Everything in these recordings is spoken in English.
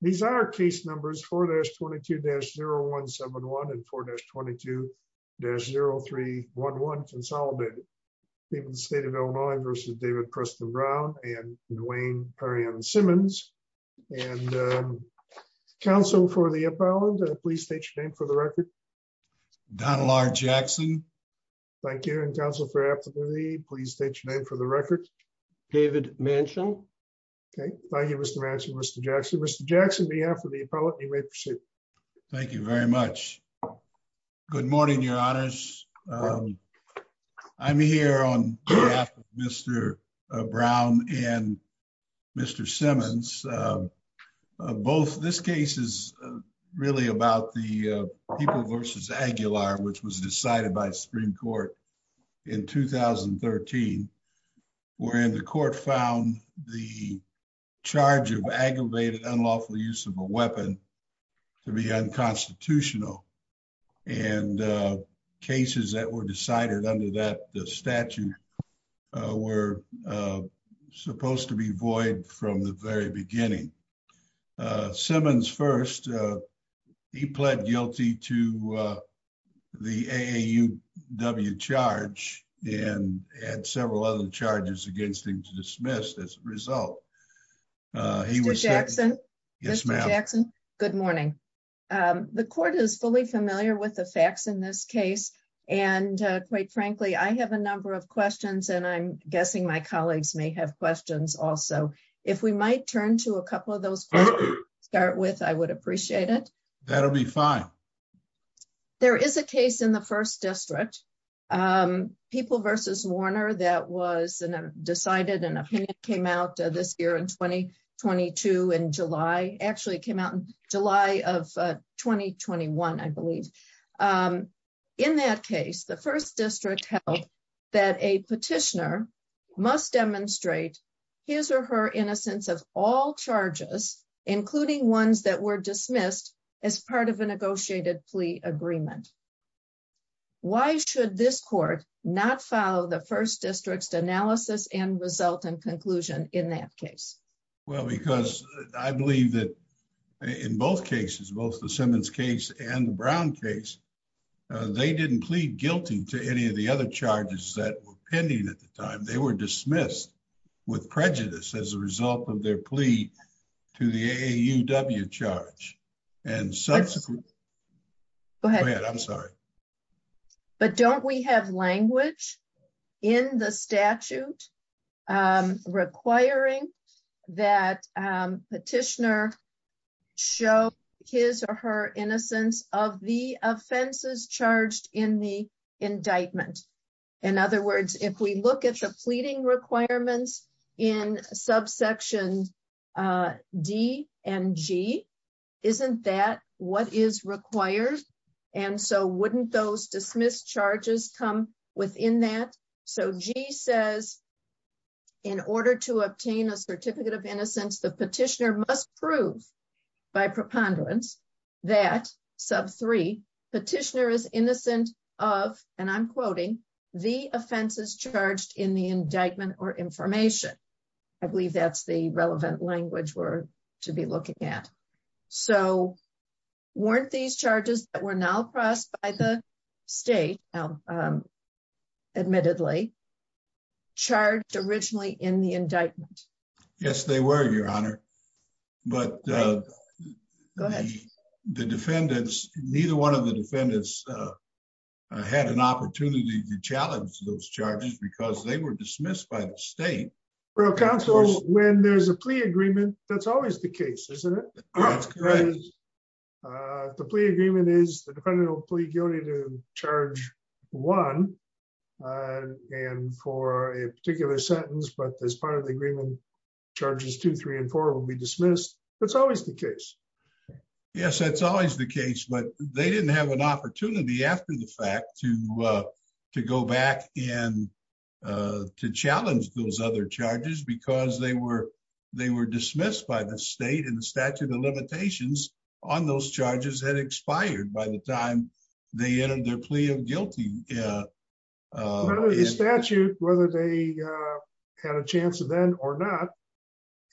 These are case numbers 4-22-0171 and 4-22-0311 consolidated. People in the state of Illinois versus David Preston Brown and Duane Perrion Simmons. And counsel for the opponent, please state your name for the record. Don Lark Jackson. Thank you and counsel for the opponent, you may proceed. Thank you very much. Good morning, your honors. I'm here on behalf of Mr. Brown and Mr. Simmons. This case is really about the People v. Aguilar, which was decided by Supreme Court in 2013, wherein the court found the charge of aggravated unlawful use of a weapon to be unconstitutional. And cases that were decided under that statute were supposed to be void from the very beginning. Simmons first, he pled guilty to the AAUW charge and had several other charges against him to result. Mr. Jackson? Yes, ma'am. Good morning. The court is fully familiar with the facts in this case. And quite frankly, I have a number of questions and I'm guessing my colleagues may have questions also. If we might turn to a couple of those questions to start with, I would appreciate it. That'll be fine. There is a case in the first district, People v. Warner, that was decided and came out this year in 2022 in July, actually came out in July of 2021, I believe. In that case, the first district held that a petitioner must demonstrate his or her innocence of all charges, including ones that were dismissed as part of a negotiated plea agreement. Why should this court not follow the first district's analysis and result in conclusion in that case? Well, because I believe that in both cases, both the Simmons case and the Brown case, they didn't plead guilty to any of the other charges that were pending at the time. They were dismissed with prejudice as a result of their plea to the AAUW charge. And subsequently, go ahead. I'm sorry. But don't we have language in the statute requiring that petitioner show his or her innocence of the offenses charged in the indictment? In other words, if we look at the pleading requirements in subsection D and G, isn't that what is required? And so wouldn't those dismissed charges come within that? So G says, in order to obtain a certificate of innocence, the petitioner must prove by preponderance that, sub three, petitioner is innocent of, and I'm quoting, the offenses charged in the indictment or information. I believe that's the relevant language we're to be looking at. So weren't these charges that were now passed by the state, admittedly, charged originally in the indictment? Yes, they were, your honor. But the defendants, neither one of the defendants had an opportunity to challenge those charges because they were dismissed by the state. Well, counsel, when there's a plea agreement, that's always the case, isn't it? The plea agreement is the defendant will plead guilty to charge one. And for a particular sentence, but as part of the agreement, charges two, three, and four will be dismissed. That's always the case. Yes, that's always the case. But they didn't have an opportunity after the fact to go back and to challenge those other charges because they were dismissed by the state and the statute of limitations on those charges had expired by the time they entered their plea of guilty. The statute, whether they had a chance then or not,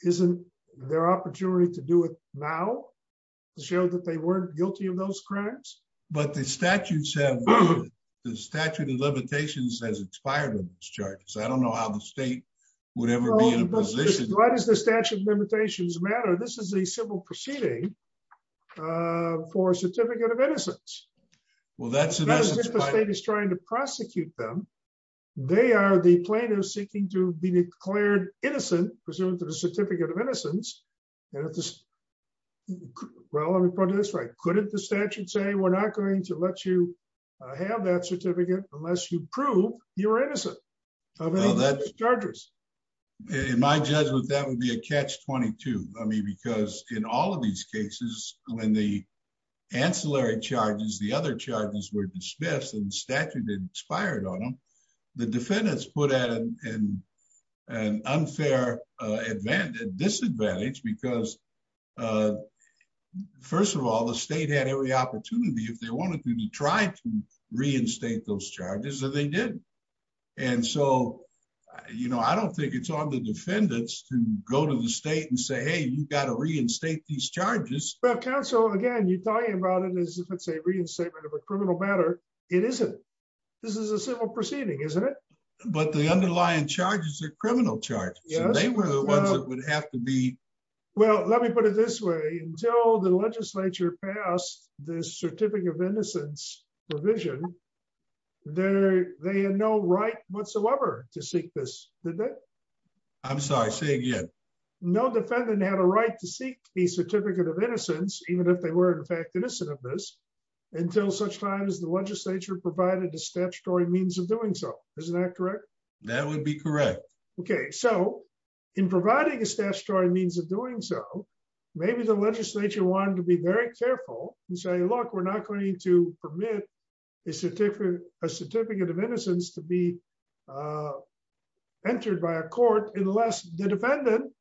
isn't their opportunity to do it now to show that they weren't guilty of those crimes? But the statute said, the statute of limitations has expired on those charges. I don't know how the state would ever be in a position. Why does the statute of limitations matter? This is a civil proceeding for a certificate of innocence. Well, that's it. The state is trying to prosecute them. They are the plaintiff seeking to be declared innocent, presumed to the certificate of innocence. Well, let me put it this way. Couldn't the statute say we're not going to let you have that certificate unless you prove you're innocent of any of those charges? In my judgment, that would be a catch-22. I mean, because in all of these cases, when the ancillary charges, the other charges were dismissed and the statute expired on them, the defendants put at an unfair disadvantage because, first of all, the state had every opportunity if they wanted to to try to reinstate those charges and they did. And so, you know, I don't think it's on the defendants to go to the state and say, hey, you've got to reinstate these charges. Well, counsel, again, you're talking about it as if it's a reinstatement of a criminal matter. It isn't. This is a civil proceeding, isn't it? But the underlying charges are criminal charges. They were the ones that would have to be. Well, let me put it this way. Until the legislature passed the certificate of innocence provision, they had no right whatsoever to seek this, did they? I'm sorry. Say again. No defendant had a right to seek the certificate of innocence, even if they were, in fact, innocent of this, until such time as the legislature provided a statutory means of doing so. Isn't that correct? That would be correct. OK, so in providing a statutory means of doing so, maybe the legislature wanted to be very a certificate of innocence to be entered by a court unless the defendant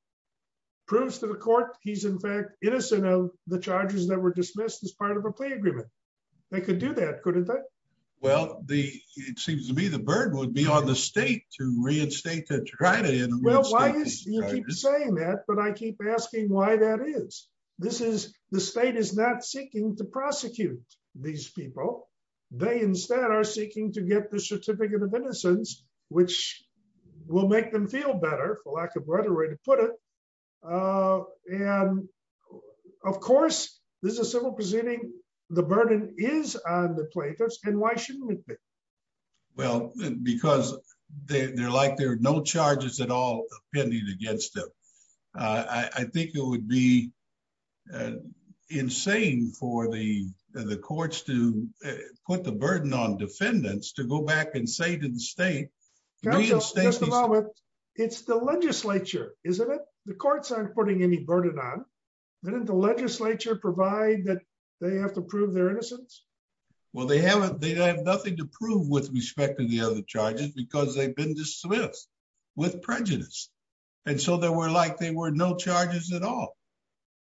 proves to the court he's, in fact, innocent of the charges that were dismissed as part of a plea agreement. They could do that, couldn't they? Well, it seems to me the burden would be on the state to reinstate the charges. Well, you keep saying that, but I keep asking why that is. The state is not seeking to prosecute these people. They instead are seeking to get the certificate of innocence, which will make them feel better, for lack of a better way to put it. And of course, this is a civil proceeding. The burden is on the plaintiffs, and why shouldn't it be? Well, because they're like there are no charges at all pending against them. I think it would be insane for the courts to put the burden on defendants to go back and say to the state, reinstate these charges. It's the legislature, isn't it? The courts aren't putting any burden on them. Didn't the legislature provide that they have to prove their innocence? Well, they haven't. They have nothing to prove with respect to the other charges because they've been dismissed with prejudice. And so they were like there were no charges at all.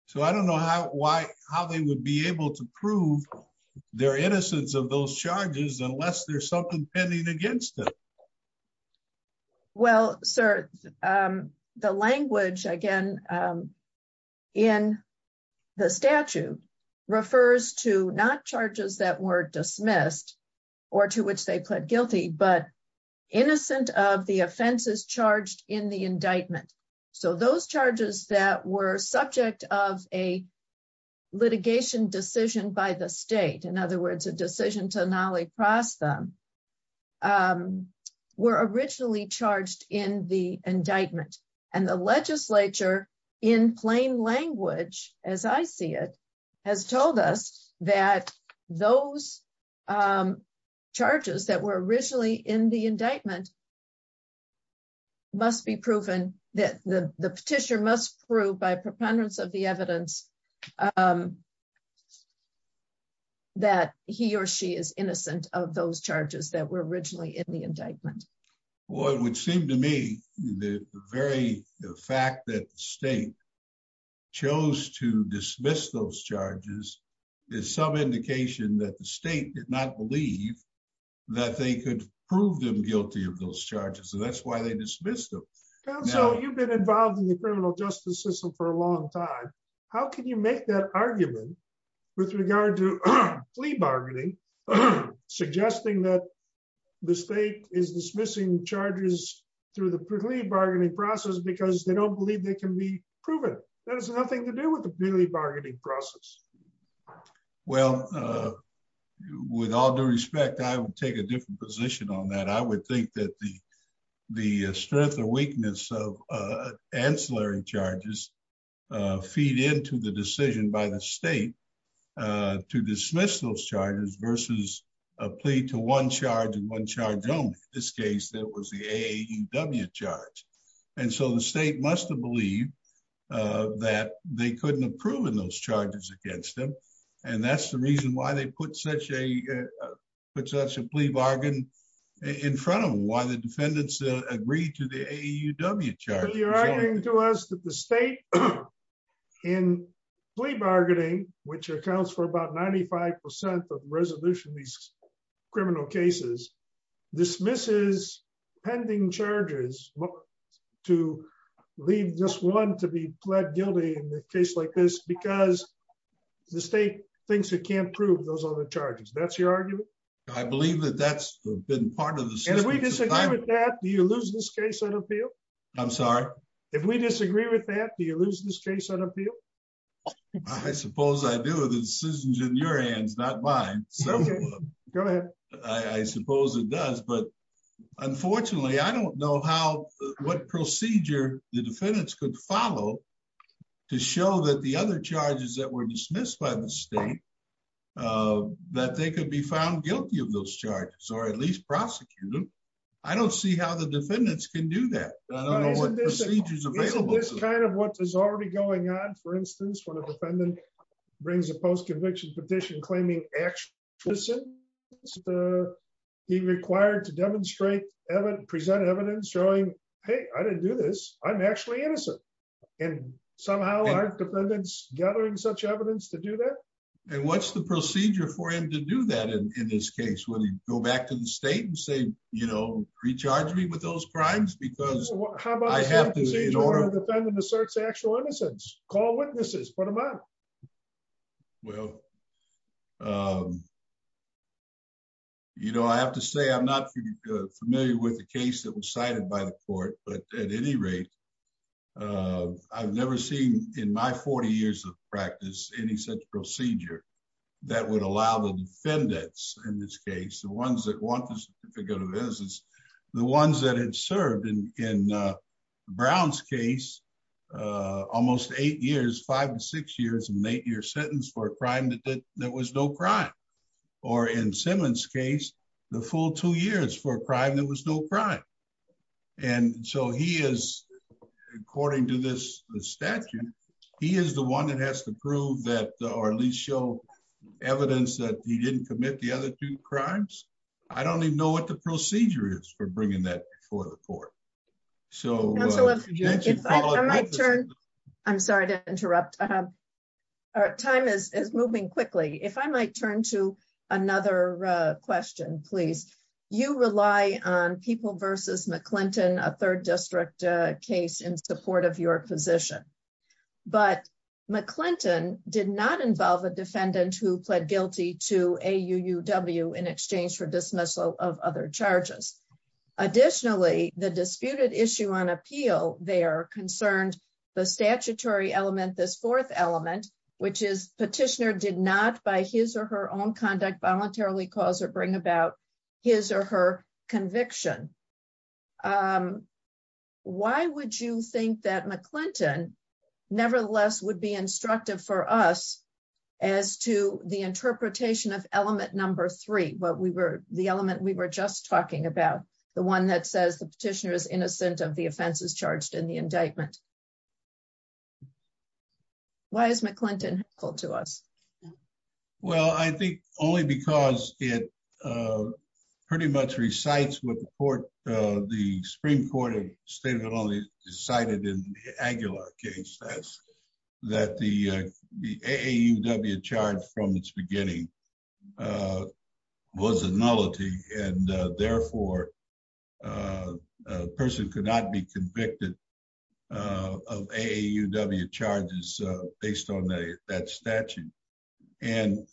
So I don't know how they would be able to prove their innocence of those charges unless there's something pending against them. Well, sir, the language, again, in the statute refers to not charges that were dismissed or to which they pled guilty, but innocent of the offenses charged in the indictment. So those charges that were subject of a litigation decision by the state, in other words, a decision to nolly cross them, were originally charged in the indictment. And the legislature in plain language, as I see it, has told us that those charges that were originally in the indictment must be proven that the petitioner must prove by preponderance of the evidence that he or she is innocent of those charges that were originally in the indictment. Well, it would seem to me the very fact that the state chose to dismiss those charges is some indication that the state did not believe that they could prove them guilty of those charges. So that's why they dismissed them. So you've been involved in the criminal justice system for a long time. How can you make that argument with regard to plea bargaining, suggesting that the state is dismissing charges through the plea bargaining process because they don't believe they can be proven? That has nothing to do with the plea bargaining process. Well, with all due respect, I would take a different position on that. I would think that the strength or weakness of ancillary charges feed into the decision by the state to dismiss those charges versus a plea to one charge and one charge only. In this case, that was the AAUW charge. And so the state must have believed that they couldn't have proven those charges against them. And that's the reason why they put such a plea bargain in front of them, why the defendants agreed to the AAUW charge. You're arguing to us that the state in plea bargaining, which accounts for about 95% of resolution of these criminal cases, dismisses pending charges to leave just one to be pled guilty in a case like this because the state thinks it can't prove those other charges. That's your argument? I believe that that's been part of the system. And if we disagree with that, do you lose this case on appeal? I'm sorry? If we disagree with that, do you lose this case on appeal? I suppose I do. The decision is in your hands, not mine. Go ahead. I suppose it does. But unfortunately, I don't know what procedure the defendants could follow to show that the other charges that were dismissed by the state, that they could be found guilty of those charges or at least prosecuted. I don't see how the defendants can do that. I don't know what procedures are available. Isn't this kind of what is already going on? For instance, when a defendant brings a post-conviction petition claiming actual innocence, he's required to demonstrate, present evidence showing, hey, I didn't do this. I'm actually innocent. And somehow, aren't defendants gathering such evidence to do that? And what's the procedure for him to do that in this case? Would he go back to the state and say, you know, recharge me with those crimes? Because I have to be in order. A defendant asserts actual innocence. Call witnesses. Put them up. Well, you know, I have to say I'm not familiar with the case that was cited by the court. But at any rate, I've never seen in my 40 years of practice any such procedure that would allow the defendants in this case, the ones that want the certificate of innocence, the ones that had served in Brown's case almost eight years, five to six years, an eight-year sentence for a crime that was no crime. Or in Simmons' case, the full two years for a crime that was no crime. And so he is, according to this statute, he is the one that has to prove that or at least show evidence that he didn't commit the other two crimes. I don't even know what the procedure is for bringing that before the court. So. I'm sorry to interrupt. Time is moving quickly. If I might turn to another question, please. You rely on People v. McClinton, a third district case, in support of your position. But McClinton did not involve a defendant who pled guilty to AUUW in exchange for dismissal of other charges. Additionally, the disputed issue on appeal there concerned the statutory element, this fourth element, which is petitioner did not by his or her own conduct voluntarily cause or bring about his or her conviction. Um, why would you think that McClinton nevertheless would be instructive for us as to the interpretation of element number three, what we were the element we were just talking about, the one that says the petitioner is innocent of the offenses charged in the indictment? Why is McClinton helpful to us? Well, I think only because it pretty much recites what the court, the Supreme Court cited in the Aguilar case, that's that the AUW charge from its beginning was a nullity. And therefore, a person could not be convicted of AUW charges based on that statute. And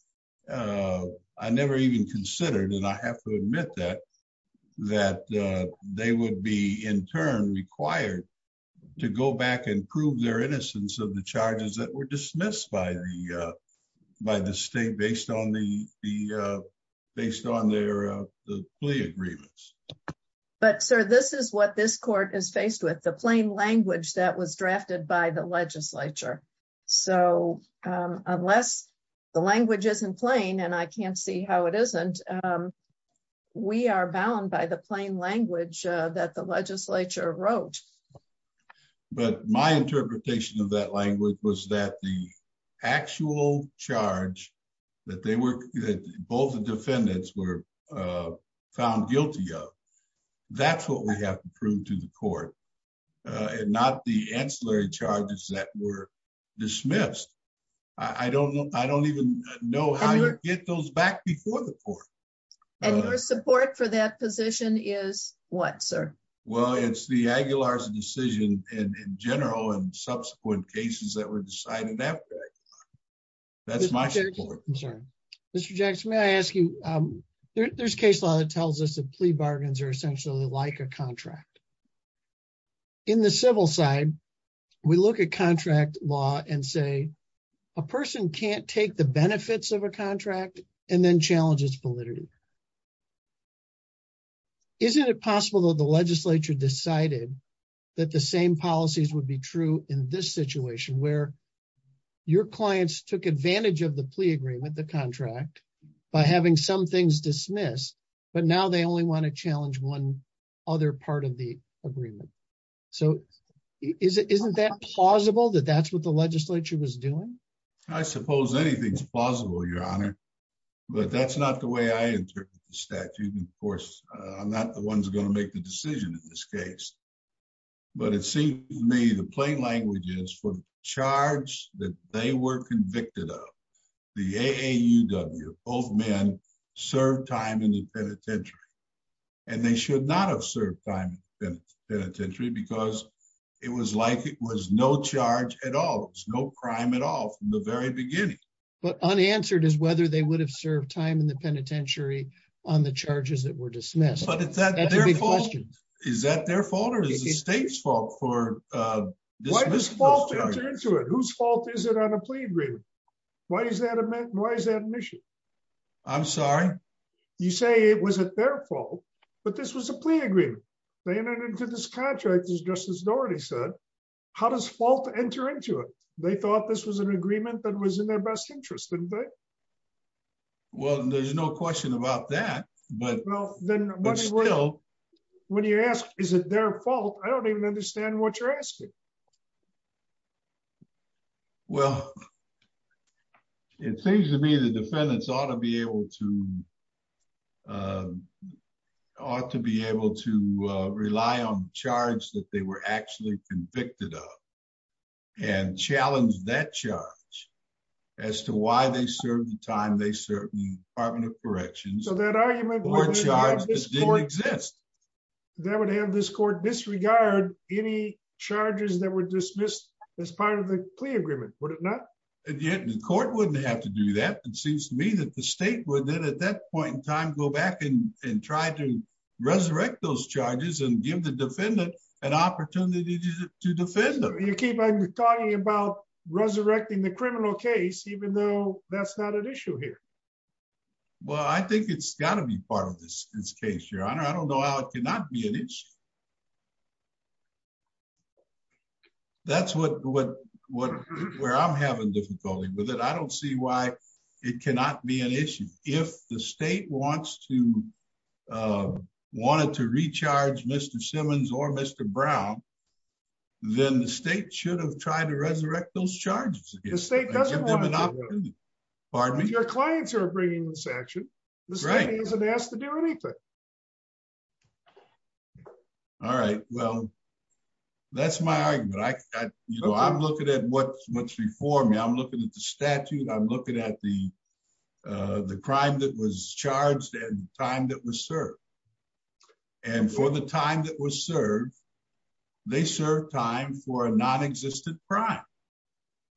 I never even considered and I have to admit that, that they would be in turn required to go back and prove their innocence of the charges that were dismissed by the by the state based on the the based on their plea agreements. But sir, this is what this court is faced with the plain language that was drafted by the legislature. So unless the language isn't plain, and I can't see how it isn't, we are bound by the plain language that the legislature wrote. But my interpretation of that language was that the actual charge that they were both the defendants were found guilty of. That's what we have to prove to the court and not the ancillary charges that were dismissed. I don't know. I don't even know how you get those back before the court. And your support for that position is what sir? Well, it's the Aguilar's decision in general and subsequent cases that were decided. That's my concern. Mr. Jackson, may I ask you, there's case law that tells us that plea bargains are essentially like a contract. In the civil side, we look at contract law and say, a person can't take the benefits of a contract and then challenges validity. Isn't it possible that the legislature decided that the same policies would be true in this contract by having some things dismissed, but now they only want to challenge one other part of the agreement. So, isn't that plausible that that's what the legislature was doing? I suppose anything's plausible, your honor. But that's not the way I interpret the statute. And of course, I'm not the ones going to make the decision in this case. But it seems to me the plain language is for charge that they were convicted of. The AAUW, both men, served time in the penitentiary. And they should not have served time in the penitentiary because it was like it was no charge at all. It was no crime at all from the very beginning. But unanswered is whether they would have served time in the penitentiary on the charges that were dismissed. But is that their fault? Is that their fault or is the state's fault for dismissing those charges? Whose fault is it on a plea agreement? Why is that an issue? I'm sorry? You say it was at their fault, but this was a plea agreement. They entered into this contract, as Justice Dougherty said. How does fault enter into it? They thought this was an agreement that was in their best interest, didn't they? Well, there's no question about that. But still, when you ask, is it their fault? I don't even understand what you're asking. Well, it seems to me the defendants ought to be able to rely on the charge that they were actually convicted of and challenge that charge as to why they served the time they served in the Department of Corrections for a charge that didn't exist. So that argument would have this court disregard any charges that were dismissed? Charges that were dismissed as part of the plea agreement, would it not? And yet the court wouldn't have to do that. It seems to me that the state would then, at that point in time, go back and try to resurrect those charges and give the defendant an opportunity to defend them. You keep on talking about resurrecting the criminal case, even though that's not an issue here. Well, I think it's got to be part of this case, Your Honor. I don't know how it cannot be an issue. That's where I'm having difficulty with it. I don't see why it cannot be an issue. If the state wanted to recharge Mr. Simmons or Mr. Brown, then the state should have tried to resurrect those charges. The state doesn't want to do it. Pardon me? Your clients are bringing this action. The state isn't asked to do anything. All right. Well, that's my argument. I'm looking at what's before me. I'm looking at the statute. I'm looking at the crime that was charged and the time that was served. And for the time that was served, they served time for a non-existent crime.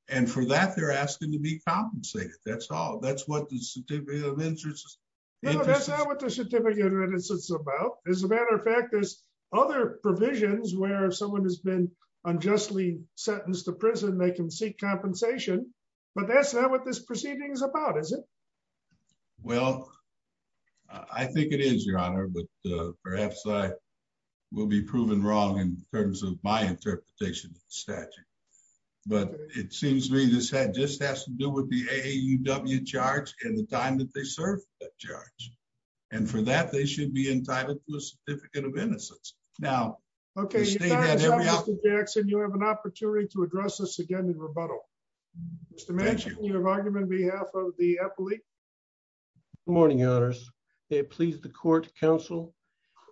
And for that, they're asking to be compensated. That's all. That's what the certificate of innocence is about. As a matter of fact, there's other provisions where if someone has been unjustly sentenced to prison, they can seek compensation. But that's not what this proceeding is about, is it? Well, I think it is, Your Honor. But perhaps I will be proven wrong in terms of my interpretation of the statute. But it seems to me this just has to do with the AAUW charge and the time that they served that charge. And for that, they should be entitled to a certificate of innocence. Now, the state had every option. Okay, Your Honor, Mr. Jackson, you have an opportunity to address this again in rebuttal. Mr. Manchin, you have argument on behalf of the appellate. Good morning, Your Honors. May it please the court, counsel.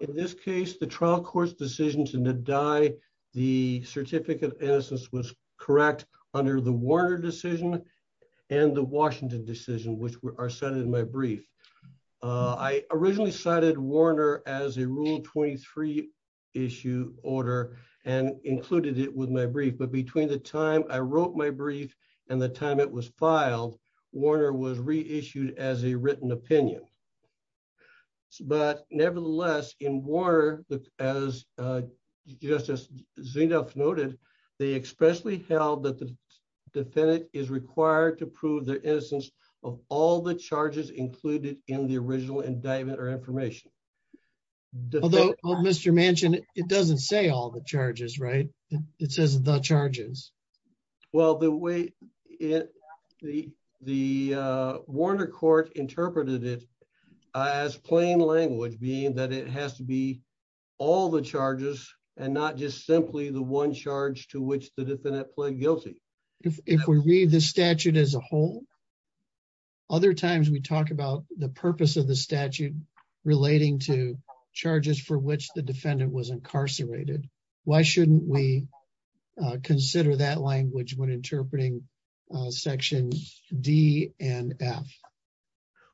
In this case, the trial court's decision to deny the certificate of innocence was correct I originally cited Warner as a Rule 23 issue order and included it with my brief. But between the time I wrote my brief and the time it was filed, Warner was reissued as a written opinion. But nevertheless, in Warner, as Justice Zinoff noted, they expressly held that the defendant is required to prove the innocence of all the charges included in the original indictment or information. Although, Mr. Manchin, it doesn't say all the charges, right? It says the charges. Well, the way the Warner court interpreted it as plain language being that it has to be all the charges and not just simply the one charge to which the defendant pled guilty. If we read the statute as a whole, other times we talk about the purpose of the statute relating to charges for which the defendant was incarcerated. Why shouldn't we consider that language when interpreting sections D and F?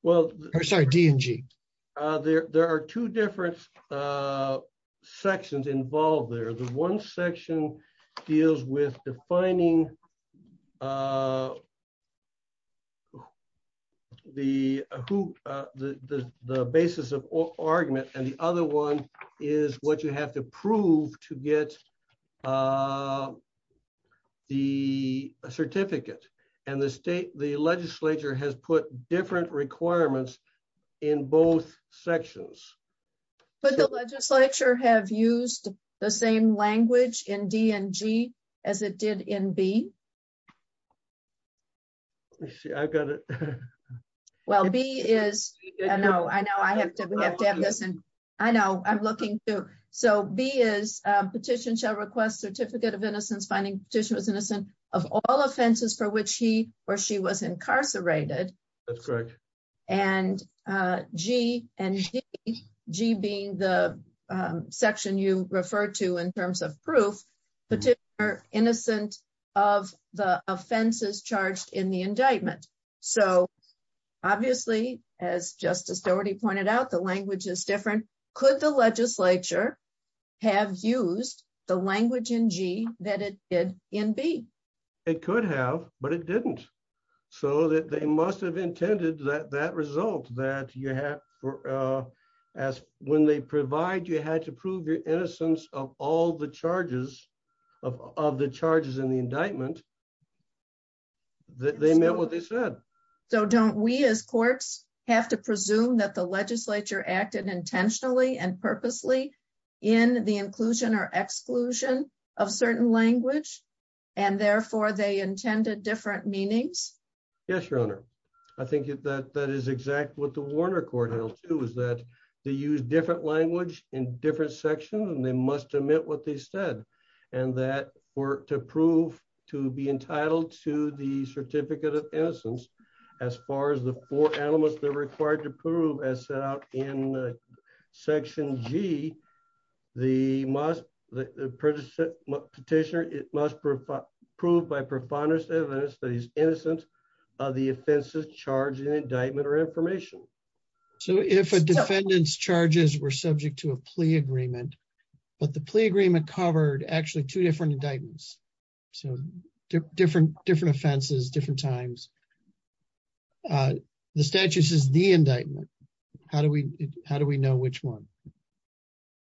Well, sorry, D and G. There are two different sections involved there. One section deals with defining the basis of argument and the other one is what you have to prove to get the certificate. And the legislature has put different requirements in both sections. But the legislature have used the same language in D and G as it did in B? I've got it. Well, B is, I know, I know I have to have this and I know I'm looking too. So B is petition shall request certificate of innocence finding petition was innocent of all offenses for which he or she was incarcerated. That's correct. And G and G being the section you refer to in terms of proof, petitioner innocent of the offenses charged in the indictment. So obviously, as Justice Dougherty pointed out, the language is different. Could the legislature have used the language in G that it did in B? It could have, but it didn't. So that they must have intended that that result that you have as when they provide you had to prove your innocence of all the charges of the charges in the indictment, that they meant what they said. So don't we as courts have to presume that the legislature acted intentionally and purposely in the inclusion or exclusion of certain language? And therefore, they intended different meanings? Yes, Your Honor. I think that that is exactly what the Warner Court held, too, is that they use different language in different sections and they must admit what they said. And that were to prove to be entitled to the certificate of innocence. As far as the four elements that are required to prove as set out in section G, the petitioner, it must prove by profoundness evidence that he's innocent of the offenses charged in indictment or information. So if a defendant's charges were subject to a plea agreement, but the plea agreement covered actually two different indictments. So different offenses, different times. The statutes is the indictment. How do we know which one?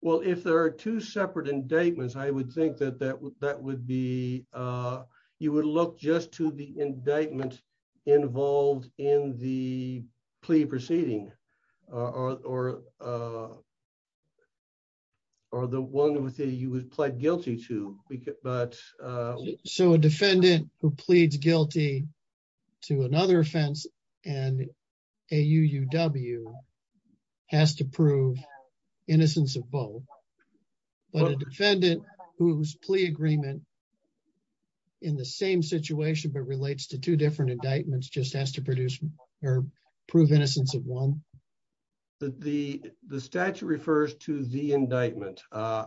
Well, if there are two separate indictments, I would think that that would be you would look just to the indictment involved in the plea proceeding or. Or the one with you was pled guilty to, but so a defendant who pleads guilty to another offense and A.U.U.W. has to prove innocence of both. But a defendant whose plea agreement. In the same situation, but relates to two different indictments, just has to produce or prove innocence of one. The statute refers to the indictment. I,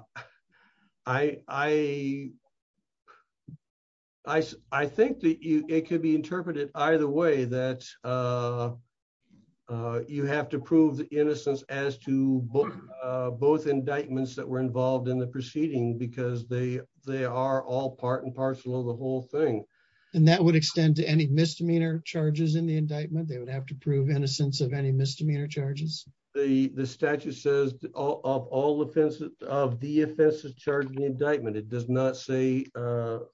I, I, I think that it could be interpreted either way that you have to prove the innocence as to both indictments that were involved in the proceeding because they they are all part and parcel of the whole thing. And that would extend to any misdemeanor charges in the indictment. They would have to prove innocence of any misdemeanor charges. The statute says of all offenses of the offenses charged in the indictment, it does not say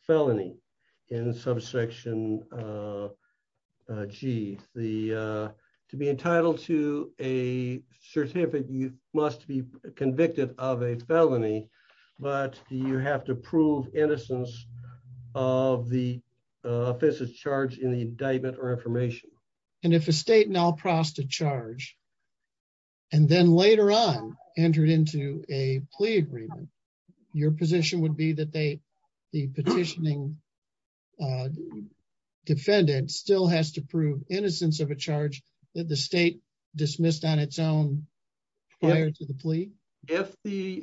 felony in subsection. Gee, the to be entitled to a certificate, you must be convicted of a felony, but you have to prove innocence of the offenses charged in the indictment or information. And if a state now prostate charge. And then later on, entered into a plea agreement, your position would be that they the petitioning. Defendant still has to prove innocence of a charge that the state dismissed on its own. Prior to the plea. If the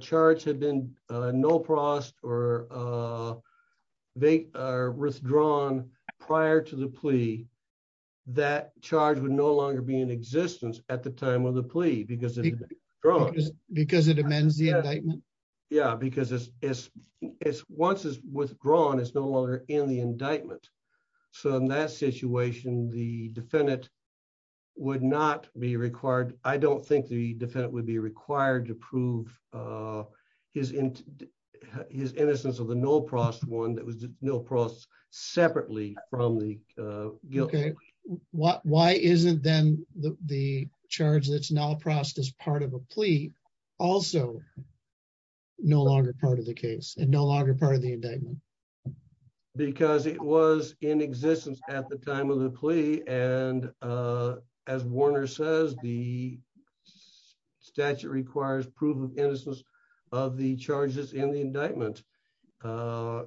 charge had been no prost or they are withdrawn prior to the plea, that charge would no longer be in existence at the time of the plea because because it amends the indictment. Yeah, because it's it's it's once it's withdrawn, it's no longer in the indictment. So in that situation, the defendant would not be required. I don't think the defendant would be required to prove his his innocence of the no prost one that was no prost separately from the guilt. OK, what why isn't then the charge that's now processed as part of a plea also. No longer part of the case and no longer part of the indictment. Because it was in existence at the time of the plea. And as Warner says, the statute requires proof of innocence of the charges in the indictment.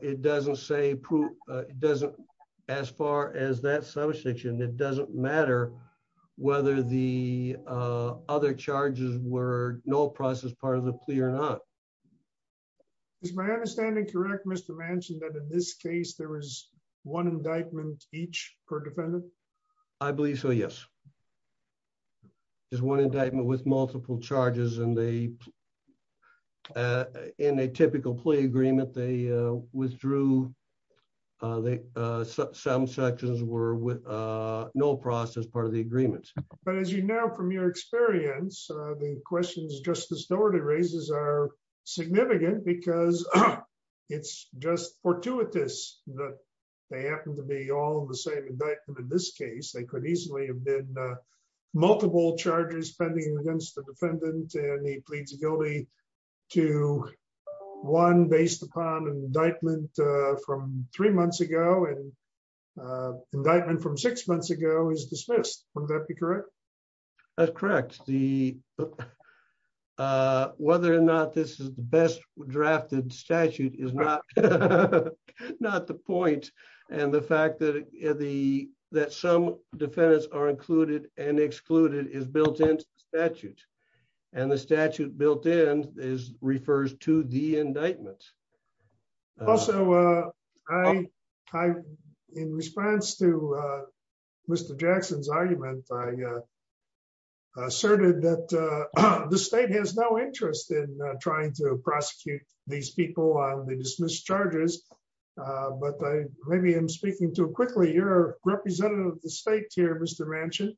It doesn't say it doesn't as far as that substitution. It doesn't matter whether the other charges were no process part of the plea or not. Is my understanding correct, Mr. Manchin, that in this case there was one indictment each per defendant? I believe so, yes. There's one indictment with multiple charges and they in a typical plea agreement, they withdrew. Some sections were with no process part of the agreement. But as you know, from your experience, the questions Justice Doherty raises are significant because it's just fortuitous that they happen to be all the same indictment. In this case, they could easily have been multiple charges pending against the defendant. And he pleads guilty to one based upon indictment from three months ago and indictment from six months ago is dismissed. Would that be correct? That's correct. Whether or not this is the best drafted statute is not the point. And the fact that some defendants are included and excluded is built into the statute. And the statute built in refers to the indictment. Also, in response to Mr. Jackson's argument, I asserted that the state has no interest in trying to prosecute these people on the dismissed charges. But maybe I'm speaking too quickly. You're a representative of the state here, Mr. Manchin.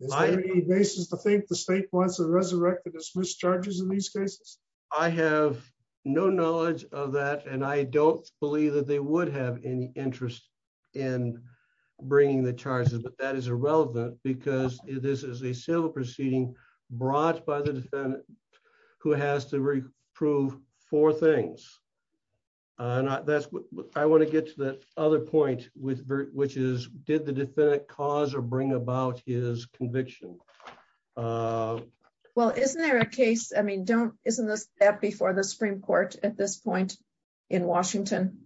Is there any basis to think the state wants to resurrect the dismissed charges in these cases? I have no knowledge of that. And I don't believe that they would have any interest in bringing the charges. But that is irrelevant because this is a civil proceeding brought by the defendant who has to prove four things. And that's what I want to get to the other point, which is, did the defendant cause or bring about his conviction? Well, isn't there a case? I mean, isn't this before the Supreme Court at this point in Washington?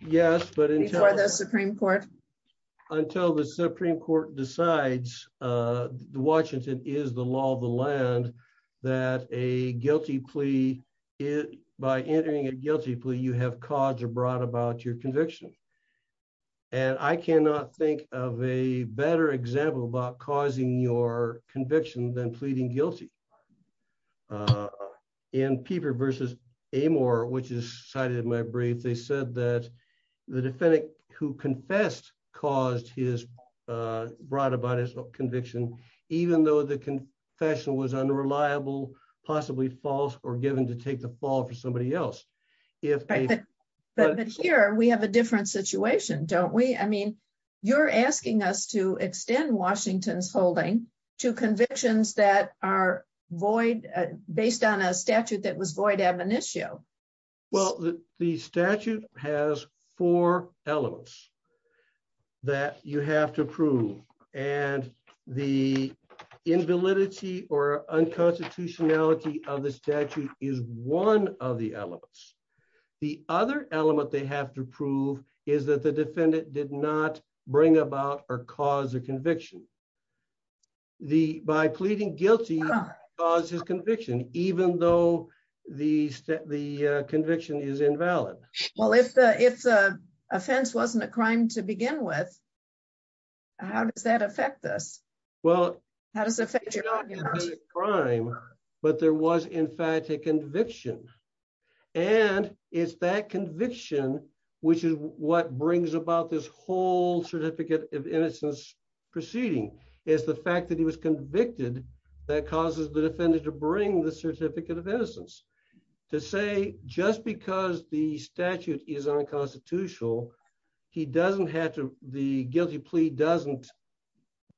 Yes, but until the Supreme Court decides, Washington is the law of the land, that a guilty plea, by entering a guilty plea, you have caused or brought about your conviction. And I cannot think of a better example about causing your conviction than pleading guilty. In Pieper versus Amor, which is cited in my brief, they said that the defendant who confessed brought about his conviction, even though the confession was unreliable, possibly false or given to take the fall for somebody else. But here we have a different situation, don't we? I mean, you're asking us to extend Washington's holding to convictions that are void, based on a statute that was void ad monitio. Well, the statute has four elements that you have to prove. And the invalidity or unconstitutionality of the statute is one of the elements. The other element they have to prove is that the defendant did not bring about or cause a conviction. By pleading guilty, he caused his conviction, even though the conviction is invalid. Well, if the offense wasn't a crime to begin with, how does that affect us? Well, it's not a crime, but there was, in fact, a conviction. And it's that conviction, which is what brings about this whole Certificate of Innocence proceeding, is the fact that he was convicted that causes the defendant to bring the Certificate of Innocence. To say, just because the statute is unconstitutional, the guilty plea doesn't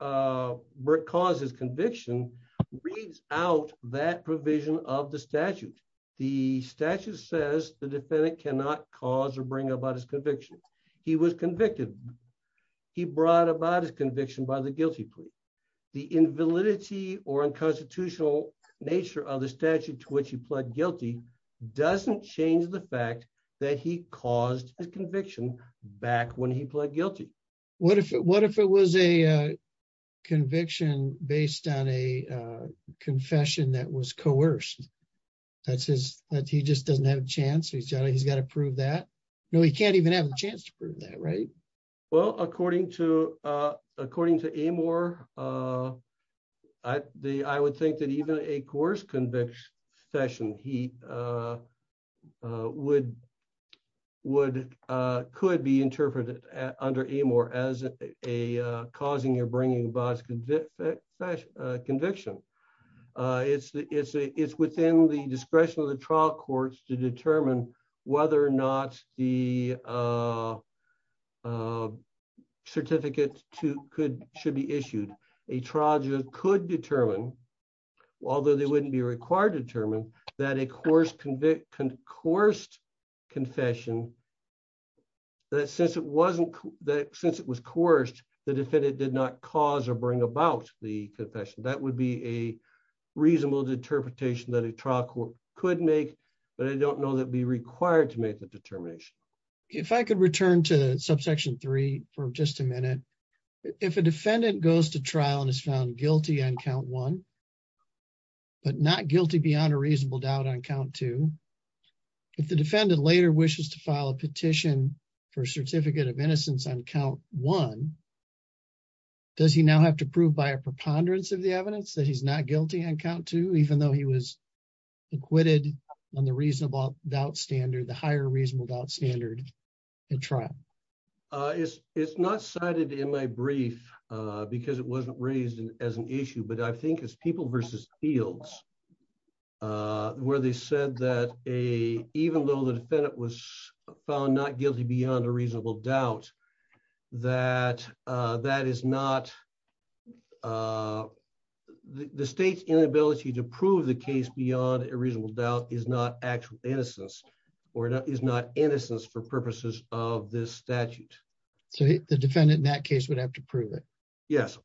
cause his conviction, reads out that provision of the statute. The statute says the defendant cannot cause or bring about his conviction. He was convicted. He brought about his conviction by the guilty plea. The invalidity or unconstitutional nature of the statute to which he pled guilty doesn't change the fact that he caused his conviction back when he pled guilty. What if it was a conviction based on a confession that was coerced? That says that he just doesn't have a chance. He's got to prove that. No, he can't even have a chance to prove that, right? Well, according to Amor, I would think that even a coerced conviction, he could be interpreted under Amor as causing or bringing about his conviction. Conviction is within the discretion of the trial courts to determine whether or not the certificate should be issued. A trial judge could determine, although they wouldn't be required to determine, that a coerced confession, that since it was coerced, the defendant did not cause or bring about the confession. That would be a reasonable interpretation that a trial court could make, but I don't know that it would be required to make the determination. If I could return to subsection three for just a minute. If a defendant goes to trial and is found guilty on count one, but not guilty beyond a reasonable doubt on count two, if the defendant later wishes to file a petition for a certificate of innocence on count one, does he now have to prove by a preponderance of the evidence that he's not guilty on count two, even though he was acquitted on the reasonable doubt standard, the higher reasonable doubt standard in trial? It's not cited in my brief because it wasn't raised as an issue, but I think it's people versus fields where they said that even though the defendant was found not guilty beyond a reasonable doubt, the state's inability to prove the case beyond a reasonable doubt is not actual innocence or is not innocence for purposes of this statute. So the defendant in that case would have to prove it? Yes.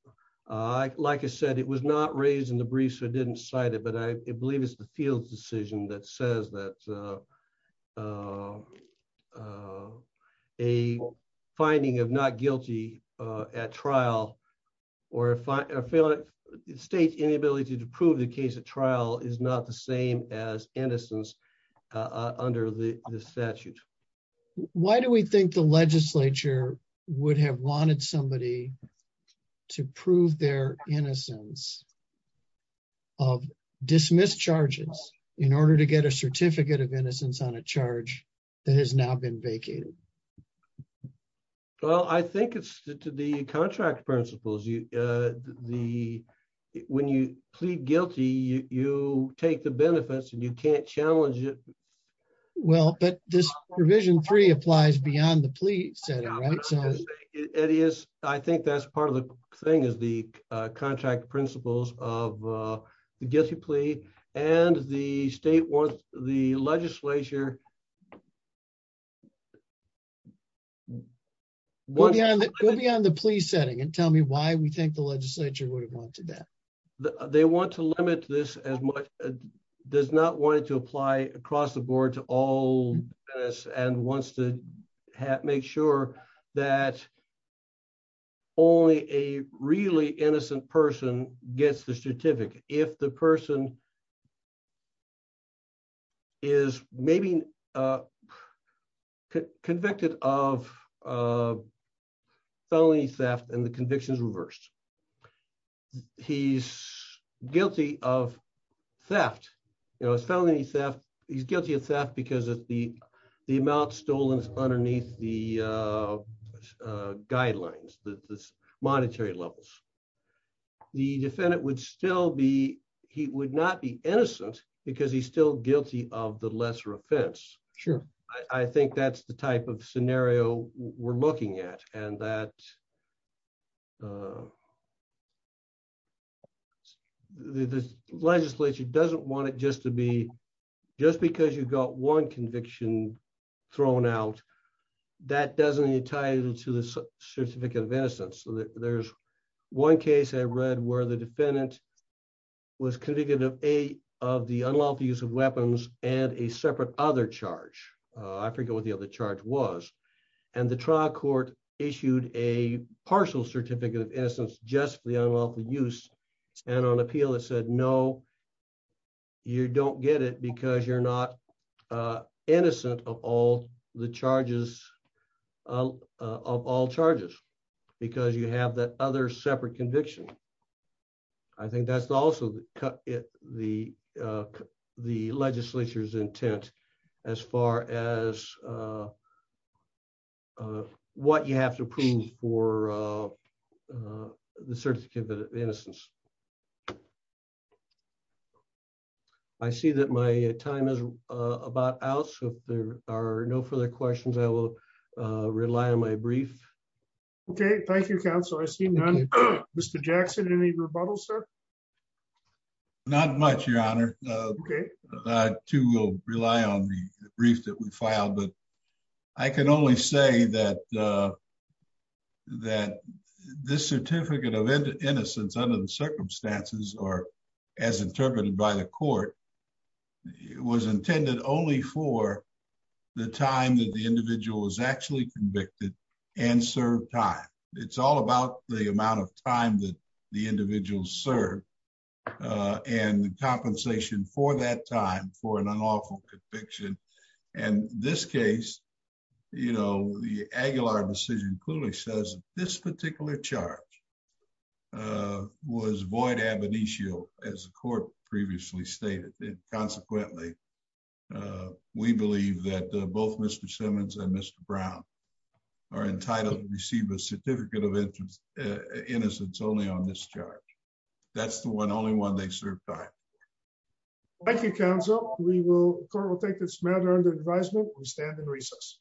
Like I said, it was not raised in the brief, so it didn't cite it, I believe it's the field's decision that says that a finding of not guilty at trial or a state's inability to prove the case at trial is not the same as innocence under the statute. Why do we think the legislature would have wanted somebody to prove their innocence of dismissed charges in order to get a certificate of innocence on a charge that has now been vacated? Well, I think it's to the contract principles. When you plead guilty, you take the benefits and you can't challenge it. Well, but this provision three applies beyond the plea setting, right? It is. I think that's part of the thing is the contract principles of the guilty plea and the state wants the legislature... Go beyond the plea setting and tell me why we think the legislature would have wanted that. They want to limit this as much, does not want it to apply across the board to all and wants to make sure that only a really innocent person gets the certificate. If the person is maybe convicted of felony theft and the conviction is reversed, he's guilty of theft. He's guilty of theft because of the amount stolen underneath the guidelines, the monetary levels. The defendant would still be... He would not be innocent because he's still guilty of the lesser offense. I think that's the type of scenario we're looking at and that the legislature doesn't want it just to be... Just because you've got one conviction thrown out, that doesn't tie into the certificate of innocence. There's one case I read where the defendant was convicted of the unlawful use of weapons and a separate other charge. I forget what the other charge was and the trial court issued a partial certificate of innocence just for the unlawful use and on appeal it said, no, you don't get it because you're not innocent of all the charges, of all charges because you have that other separate conviction. I think that's also the legislature's intent as far as what you have to prove for the certificate of innocence. I see that my time is about out, so if there are no further questions, I will rely on my brief. Okay, thank you, counsel. I see none. Mr. Jackson, any rebuttals, sir? Not much, your honor. I too will rely on the brief that we filed, but I can only say that this certificate of innocence under the circumstances or as interpreted by the court it was intended only for the time that the individual was actually convicted and served time. It's all about the amount of time that the individual served and the compensation for that time for an unlawful conviction. In this case, the Aguilar decision clearly says this particular charge was void ab initio as the court previously stated and consequently we believe that both Mr. Simmons and Mr. Brown are entitled to receive a certificate of innocence only on this charge. That's the one only one they served time. Thank you, counsel. The court will take this matter under advisement. We stand in recess.